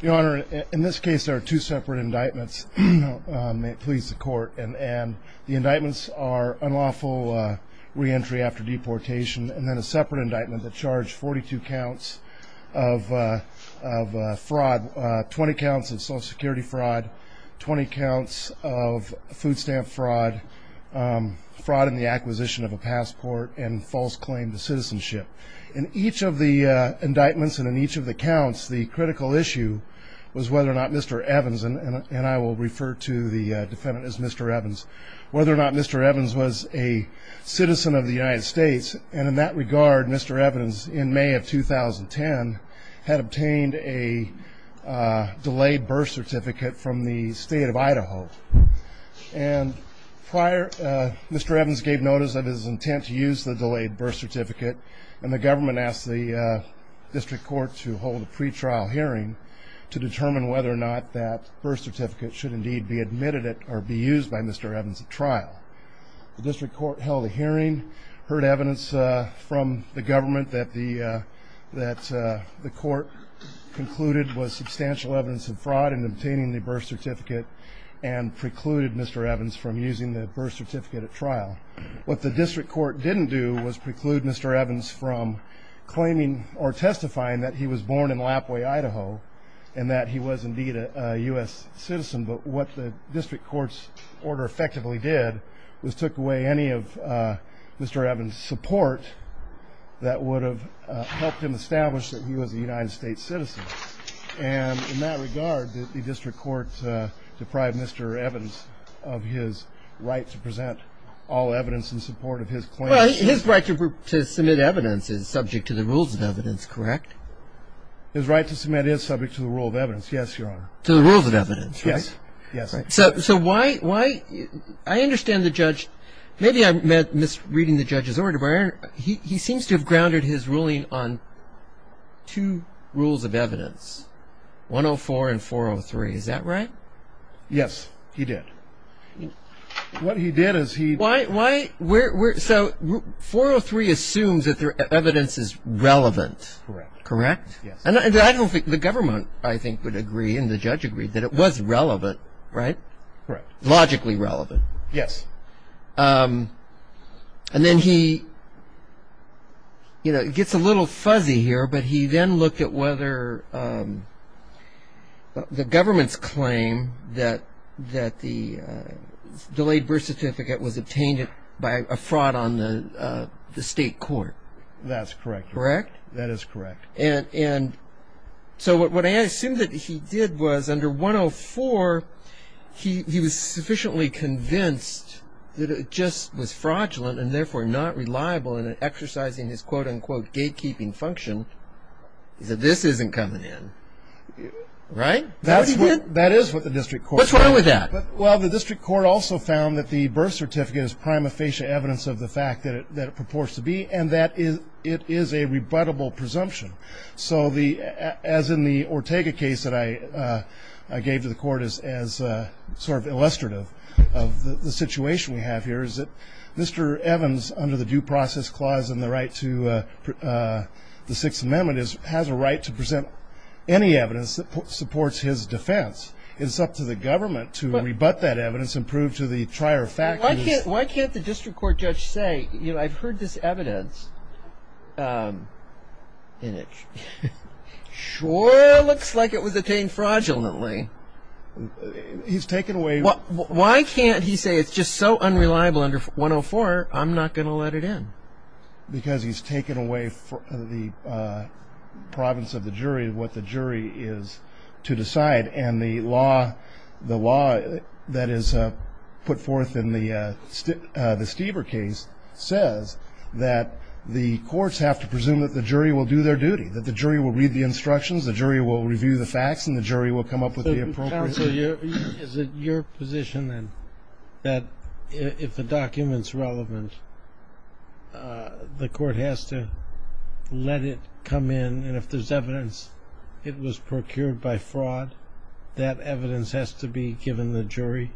Your Honor, in this case there are two separate indictments. May it please the court. And the indictments are unlawful re-entry after deportation, and then a separate indictment that charged 42 counts of fraud, 20 counts of Social Security fraud, 20 counts of food stamp fraud, fraud in the acquisition of a passport, and false claim to citizenship. In each of the indictments and in each of the counts, the critical issue was whether or not Mr. Evans, and I will refer to the defendant as Mr. Evans, whether or not Mr. Evans was a citizen of the United States. And in that regard, Mr. Evans, in May of 2010, had obtained a delayed birth certificate from the state of Idaho. And prior, Mr. Evans gave notice of his intent to use the delayed birth certificate, and the government asked the district court to hold a pretrial hearing to determine whether or not that birth certificate should indeed be admitted or be used by Mr. Evans at trial. The district court held a hearing, heard evidence from the government that the court concluded was substantial evidence of fraud in obtaining the birth certificate and precluded Mr. Evans from using the birth certificate at trial. What the district court didn't do was preclude Mr. Evans from claiming or testifying that he was born in Lapway, Idaho, and that he was indeed a U.S. citizen. But what the district court's order effectively did was took away any of Mr. Evans' support that would have helped him establish that he was a United States citizen. And in that regard, the district court deprived Mr. Evans of his right to present all evidence in support of his claim. Well, his right to submit evidence is subject to the rules of evidence, correct? His right to submit is subject to the rule of evidence, yes, Your Honor. To the rules of evidence, right? Yes, yes. So why – I understand the judge – maybe I'm misreading the judge's order, but, Your Honor, he seems to have grounded his ruling on two rules of evidence, 104 and 403, is that right? Yes, he did. What he did is he – Why – so 403 assumes that the evidence is relevant, correct? Correct, yes. And I don't think – the government, I think, would agree, and the judge agreed, that it was relevant, right? Correct. Logically relevant. Yes. And then he – you know, it gets a little fuzzy here, but he then looked at whether the government's claim that the delayed birth certificate was obtained by a fraud on the state court. That's correct, Your Honor. Correct? That is correct. And so what I assume that he did was, under 104, he was sufficiently convinced that it just was fraudulent and therefore not reliable in exercising his, quote, unquote, gatekeeping function. He said, this isn't coming in. Right? That's what he did? That is what the district court found. What's wrong with that? Well, the district court also found that the birth certificate is prima facie evidence of the fact that it purports to be, and that it is a rebuttable presumption. So the – as in the Ortega case that I gave to the court as sort of illustrative of the situation we have here, is that Mr. Evans, under the Due Process Clause and the right to the Sixth Amendment, has a right to present any evidence that supports his defense. It's up to the government to rebut that evidence and prove to the trier fact that it's – Why can't the district court judge say, you know, I've heard this evidence, and it sure looks like it was obtained fraudulently. He's taken away – Why can't he say it's just so unreliable under 104, I'm not going to let it in? Because he's taken away from the province of the jury what the jury is to decide, and the law that is put forth in the Stieber case says that the courts have to presume that the jury will do their duty, that the jury will read the instructions, the jury will review the facts, and the jury will come up with the appropriate – Counsel, is it your position then that if the document's relevant, the court has to let it come in, and if there's evidence it was procured by fraud, that evidence has to be given the jury,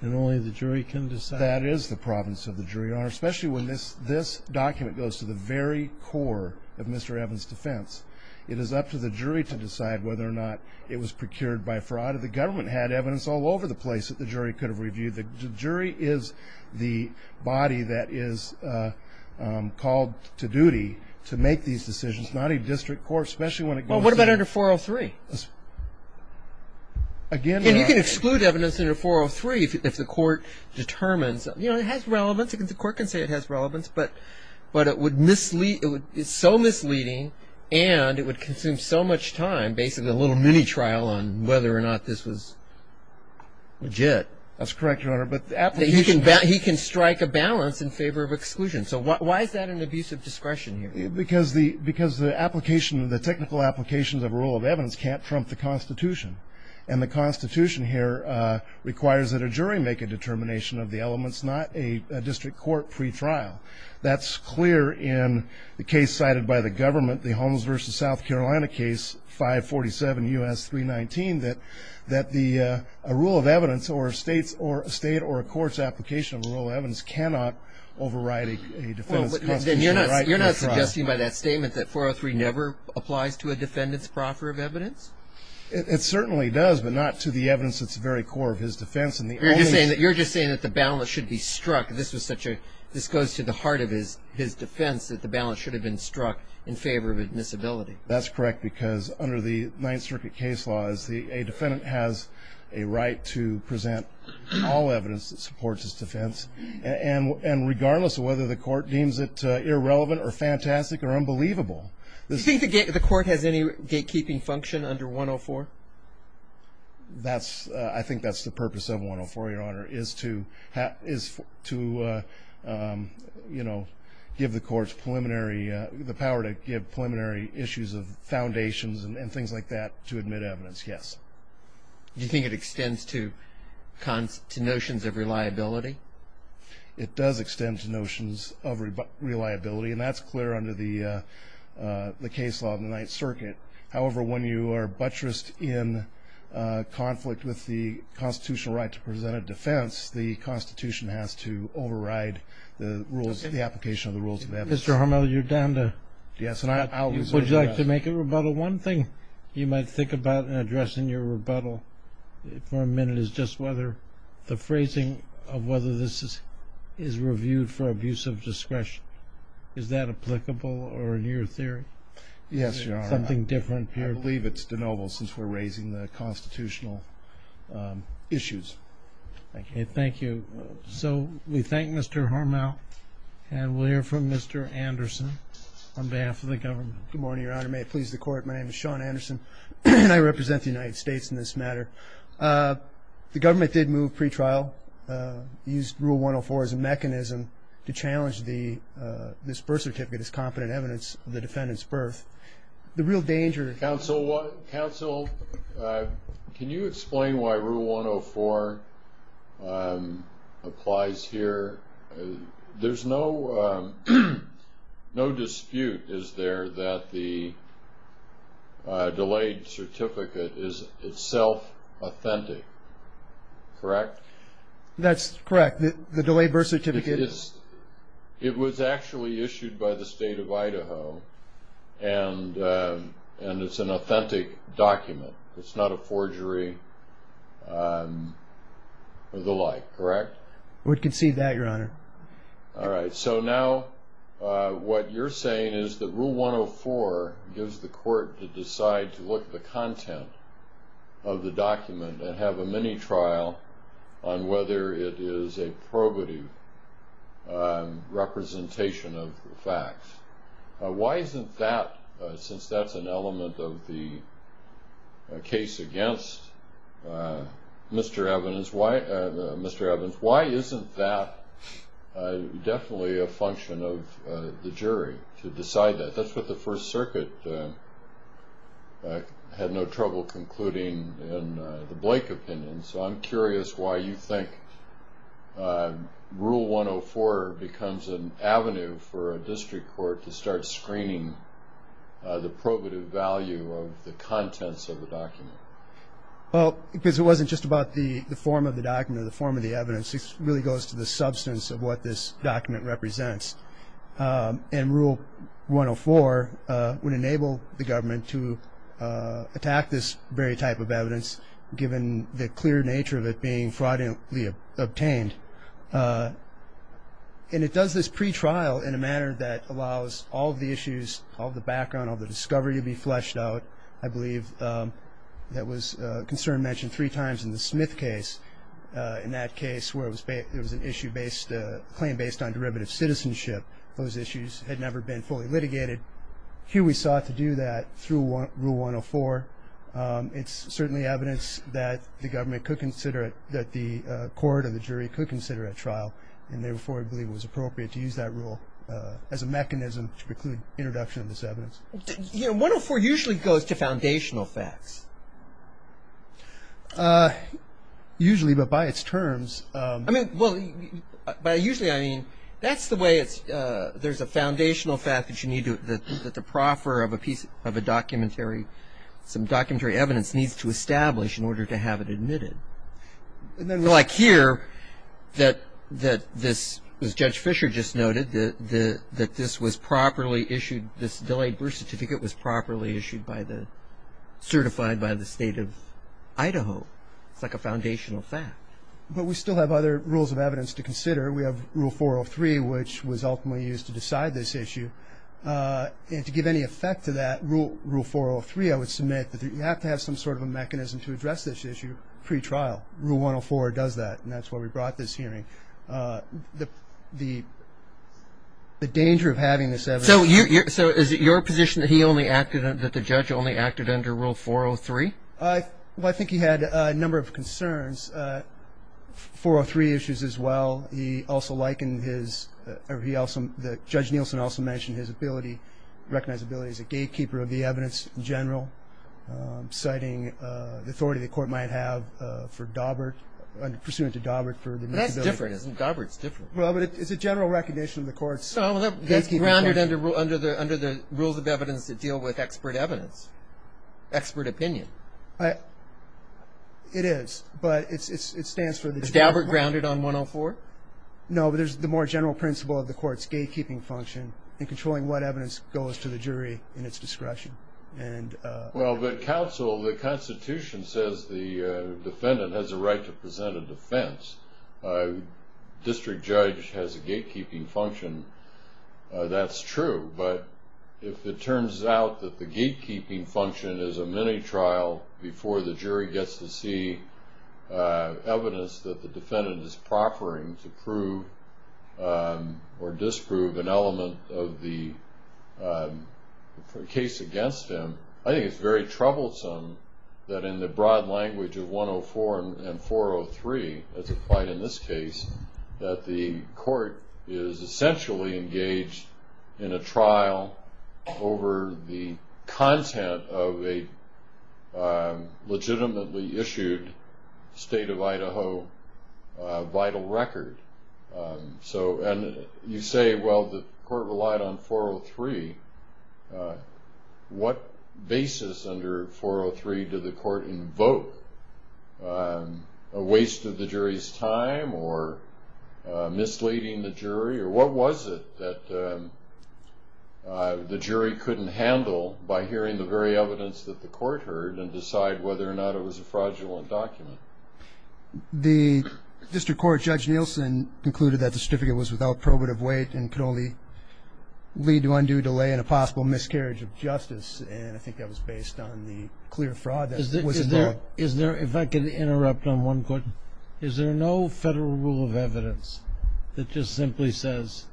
and only the jury can decide? That is the province of the jury, Your Honor, especially when this document goes to the very core of Mr. Evans' defense. It is up to the jury to decide whether or not it was procured by fraud. The government had evidence all over the place that the jury could have reviewed. The jury is the body that is called to duty to make these decisions, not a district court, especially when it goes to – Well, what about under 403? Again – And you can exclude evidence under 403 if the court determines – you know, it has relevance. The court can say it has relevance, but it would – it's so misleading, and it would consume so much time, basically a little mini-trial on whether or not this was legit. That's correct, Your Honor, but the application – He can strike a balance in favor of exclusion. So why is that an abuse of discretion here? Because the application – the technical applications of rule of evidence can't trump the Constitution, and the Constitution here requires that a jury make a determination of the elements, not a district court pretrial. That's clear in the case cited by the government, the Holmes v. South Carolina case, 547 U.S. 319, that a rule of evidence or a state or a court's application of a rule of evidence cannot override a defendant's Constitution. Well, then you're not suggesting by that statement that 403 never applies to a defendant's proffer of evidence? It certainly does, but not to the evidence that's very core of his defense, and the only – You're just saying that the balance should be struck. This was such a – this goes to the heart of his defense, that the balance should have been struck in favor of admissibility. That's correct, because under the Ninth Circuit case law, a defendant has a right to present all evidence that supports his defense, and regardless of whether the court deems it irrelevant or fantastic or unbelievable. Do you think the court has any gatekeeping function under 104? That's – I think that's the purpose of 104, Your Honor, is to, you know, give the courts preliminary – the power to give preliminary issues of foundations and things like that to admit evidence, yes. Do you think it extends to notions of reliability? It does extend to notions of reliability, and that's clear under the case law of the Ninth Circuit. However, when you are buttressed in conflict with the constitutional right to present a defense, the Constitution has to override the rules – the application of the rules of evidence. Mr. Harmel, you're down to – Yes, and I'll – Would you like to make a rebuttal? One thing you might think about in addressing your rebuttal for a minute is just whether – the phrasing of whether this is reviewed for abuse of discretion. Is that applicable or in your theory? Yes, Your Honor. Is there something different here? I believe it's de novo since we're raising the constitutional issues. Thank you. Thank you. So we thank Mr. Harmel, and we'll hear from Mr. Anderson on behalf of the government. Good morning, Your Honor. May it please the Court, my name is Sean Anderson. I represent the United States in this matter. The government did move pretrial, used Rule 104 as a mechanism to challenge this birth certificate as competent evidence of the defendant's birth. The real danger – Counsel, can you explain why Rule 104 applies here? There's no dispute, is there, that the delayed certificate is itself authentic, correct? That's correct. The delayed birth certificate is – and it's an authentic document. It's not a forgery or the like, correct? We'd concede that, Your Honor. All right. So now what you're saying is that Rule 104 gives the Court to decide to look at the content of the document and have a mini-trial on whether it is a probative representation of the facts. Why isn't that, since that's an element of the case against Mr. Evans, why isn't that definitely a function of the jury to decide that? That's what the First Circuit had no trouble concluding in the Blake opinion, so I'm curious why you think Rule 104 becomes an avenue for a district court to start screening the probative value of the contents of the document. Well, because it wasn't just about the form of the document or the form of the evidence. It really goes to the substance of what this document represents. And Rule 104 would enable the government to attack this very type of evidence, given the clear nature of it being fraudulently obtained. And it does this pretrial in a manner that allows all of the issues, all of the background, all of the discovery to be fleshed out. I believe that was a concern mentioned three times in the Smith case. In that case where it was an issue based, a claim based on derivative citizenship, those issues had never been fully litigated. Here we sought to do that through Rule 104. It's certainly evidence that the government could consider it, that the court or the jury could consider at trial, and therefore I believe it was appropriate to use that rule as a mechanism to preclude introduction of this evidence. So, you know, 104 usually goes to foundational facts. Usually, but by its terms. I mean, well, by usually I mean that's the way it's, there's a foundational fact that you need to, that the proffer of a piece of a documentary, some documentary evidence needs to establish in order to have it admitted. And then like here, that this, as Judge Fisher just noted, that this was properly issued, this delayed birth certificate was properly issued by the, certified by the State of Idaho. It's like a foundational fact. But we still have other rules of evidence to consider. We have Rule 403, which was ultimately used to decide this issue. And to give any effect to that, Rule 403, I would submit, that you have to have some sort of a mechanism to address this issue pre-trial. Rule 104 does that, and that's why we brought this hearing. The danger of having this evidence. So is it your position that he only acted, that the judge only acted under Rule 403? Well, I think he had a number of concerns. 403 issues as well. He also likened his, or he also, Judge Nielsen also mentioned his ability, recognized ability as a gatekeeper of the evidence in general, citing the authority the court might have for Daubert, pursuant to Daubert, for the disability. That's different, isn't it? Daubert's different. Well, but it's a general recognition of the court's gatekeeping function. Well, that's grounded under the rules of evidence that deal with expert evidence, expert opinion. It is, but it stands for the... Is Daubert grounded on 104? No, but there's the more general principle of the court's gatekeeping function and controlling what evidence goes to the jury in its discretion. Well, but counsel, the Constitution says the defendant has a right to present a defense. District judge has a gatekeeping function. That's true, but if it turns out that the gatekeeping function is a mini-trial before the jury gets to see evidence that the defendant is proffering to prove or disprove an element of the case against him, I think it's very troublesome that in the broad language of 104 and 403, as applied in this case, that the court is essentially engaged in a trial over the content of a legitimately issued State of Idaho vital record. So, and you say, well, the court relied on 403. What basis under 403 did the court invoke? A waste of the jury's time or misleading the jury, or what was it that the jury couldn't handle by hearing the very evidence that the court heard and decide whether or not it was a fraudulent document? The district court, Judge Nielsen concluded that the certificate was without probative weight and could only lead to undue delay and a possible miscarriage of justice, and I think that was based on the clear fraud that was involved. Is there, if I could interrupt on one point, is there no federal rule of evidence that just simply says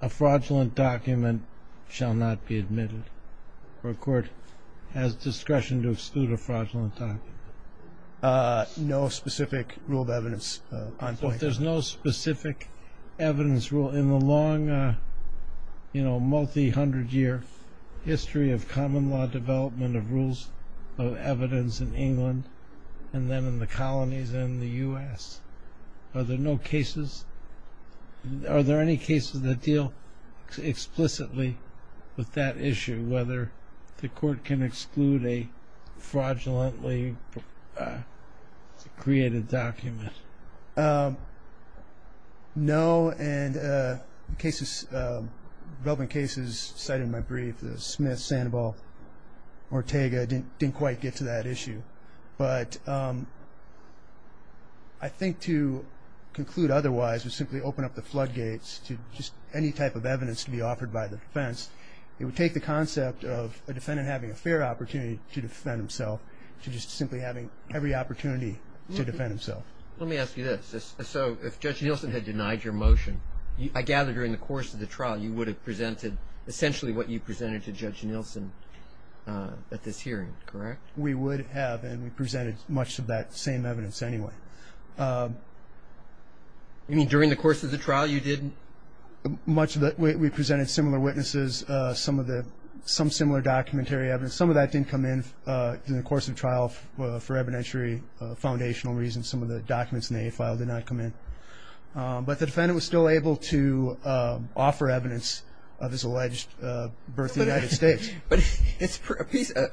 a fraudulent document shall not be admitted or a court has discretion to exclude a fraudulent document? No specific rule of evidence. There's no specific evidence rule in the long, you know, multi-hundred year history of common law development of rules of evidence in England and then in the colonies and the U.S. Are there no cases? Are there any cases that deal explicitly with that issue, whether the court can exclude a fraudulently created document? No, and the relevant cases cited in my brief, Sandoval, Ortega, didn't quite get to that issue, but I think to conclude otherwise would simply open up the floodgates to just any type of evidence to be offered by the defense. It would take the concept of a defendant having a fair opportunity to defend himself to just simply having every opportunity to defend himself. Let me ask you this. So if Judge Nielsen had denied your motion, I gather during the course of the trial you would have presented essentially what you presented to Judge Nielsen at this hearing, correct? We would have, and we presented much of that same evidence anyway. You mean during the course of the trial you didn't? We presented similar witnesses, some similar documentary evidence. Some of that didn't come in during the course of the trial for evidentiary foundational reasons. Some of the documents in the A file did not come in, but the defendant was still able to offer evidence of his alleged birth in the United States. But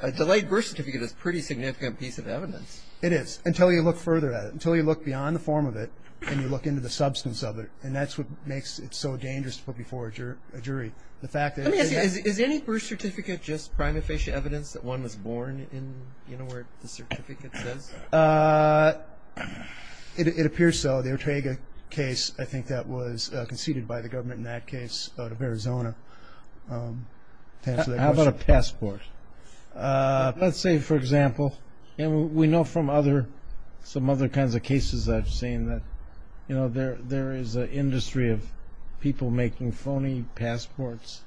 a delayed birth certificate is a pretty significant piece of evidence. It is, until you look further at it, until you look beyond the form of it and you look into the substance of it, and that's what makes it so dangerous to put before a jury. Let me ask you, is any birth certificate just prima facie evidence that one was born in, you know, where the certificate says? It appears so. The Ortega case, I think that was conceded by the government in that case out of Arizona. How about a passport? Let's say, and we know from other, some other kinds of cases I've seen that, you know, there is an industry of people making phony passports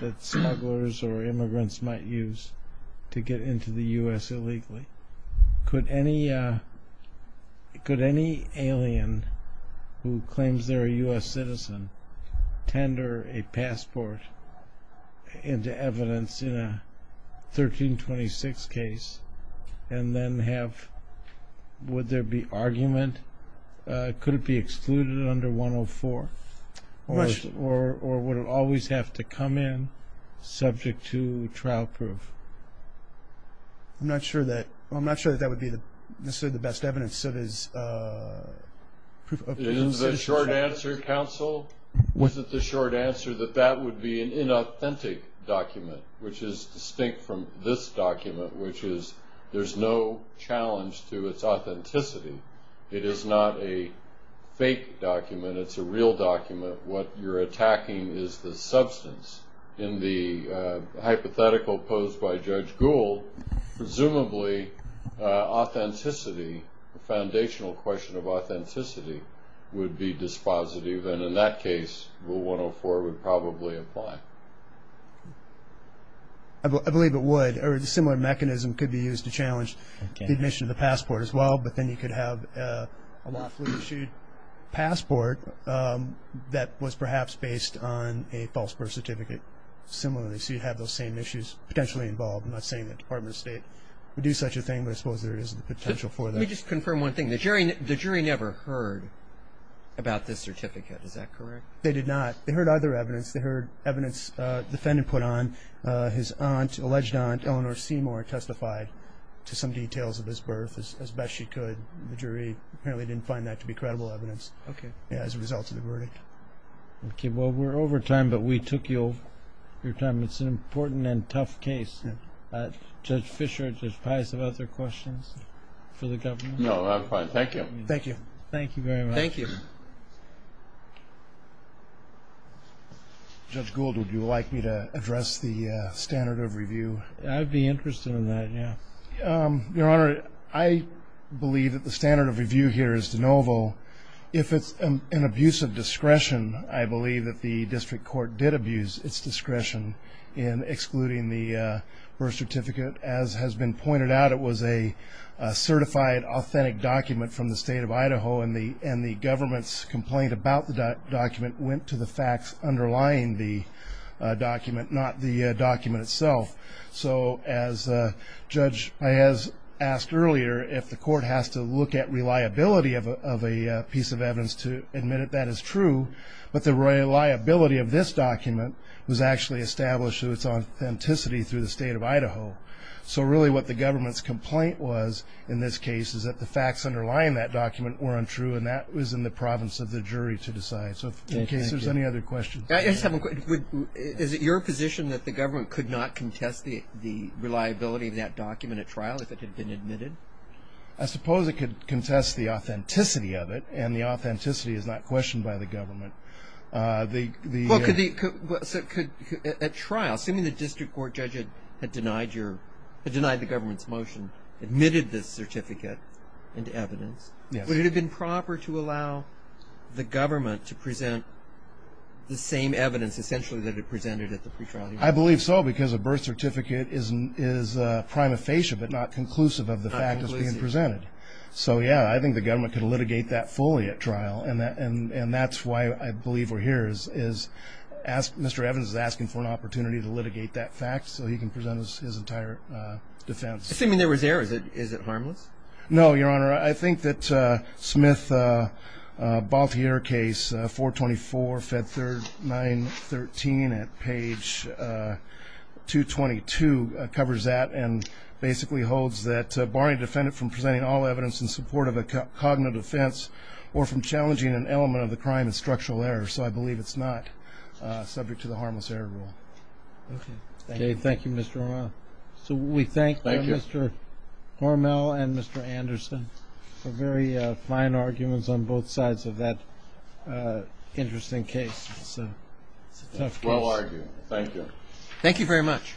that smugglers or immigrants might use to get into the U.S. illegally. Could any, could any alien who claims they're a U.S. citizen tender a passport into evidence in a 1326 case and then have, would there be argument? Could it be excluded under 104? Or would it always have to come in subject to trial proof? I'm not sure that, I'm not sure that that would be necessarily the best evidence. Is the short answer, counsel, was it the short answer that that would be an inauthentic document, which is distinct from this document, which is there's no challenge to its authenticity. It is not a fake document. It's a real document. What you're attacking is the substance in the hypothetical posed by Judge Gould, presumably authenticity, the foundational question of authenticity would be dispositive. And in that case, well, 104 would probably apply. I believe it would. Or the similar mechanism could be used to challenge the admission of the passport as well. But then you could have a lawfully issued passport that was perhaps based on a false birth certificate. Similarly, so you'd have those same issues potentially involved. I'm not saying that the Department of State would do such a thing, but I suppose there is the potential for that. Let me just confirm one thing. The jury never heard about this certificate. Is that correct? They did not. They heard other evidence. They heard evidence the defendant put on his aunt, alleged aunt, Eleanor Seymour testified to some details of his birth as best she could. The jury apparently didn't find that to be credible evidence. Okay. As a result of the verdict. Okay. Well, we're over time, but we took your time. It's an important and tough case. Judge Fischer, do you have other questions for the government? No, I'm fine. Thank you. Thank you. Thank you very much. Thank you. Judge Gould, would you like me to address the standard of review? I'd be interested in that, yeah. Your Honor, I believe that the standard of review here is de novo. If it's an abuse of discretion, I believe that the district court did abuse its discretion in excluding the birth certificate. As has been pointed out, it was a certified authentic document from the state of Idaho, and the government's complaint about the document went to the facts underlying the document, not the document itself. So, as Judge Mayes asked earlier, if the court has to look at reliability of a piece of evidence to admit that is true, but the reliability of this document was actually established through its authenticity through the state of Idaho. So, really what the government's complaint was in this case is that the facts underlying that document were untrue, and that was in the province of the jury to decide. So, in case there's any other questions. Is it your position that the government could not contest the reliability of that document at trial if it had been admitted? I suppose it could contest the authenticity of it, and the authenticity is not questioned by the government. At trial, assuming the district court judge had denied the government's motion, admitted this certificate into evidence, would it have been proper to allow the government to present the same evidence essentially that it presented at the pre-trial hearing? I believe so, because a birth certificate is prima facie, but not conclusive of the fact that it's being presented. So, yeah, I think the government could litigate that fully at trial, and that's why I believe we're here, is Mr. Evans is asking for an opportunity to litigate that fact so he can present his entire defense. Assuming there was error, is it harmless? No, Your Honor, I think that Smith-Balthier case, 424-Fed 3913 at page 222, covers that and basically holds that Barney defended from presenting all evidence in support of a cognitive defense or from challenging an element of the crime as structural error. So, I believe it's not subject to the harmless error rule. Okay. Thank you, Mr. O'Rourke. So we thank Mr. Hormel and Mr. Anderson for very fine arguments on both sides of that interesting case. It's a tough case. Well argued. Thank you. Thank you very much.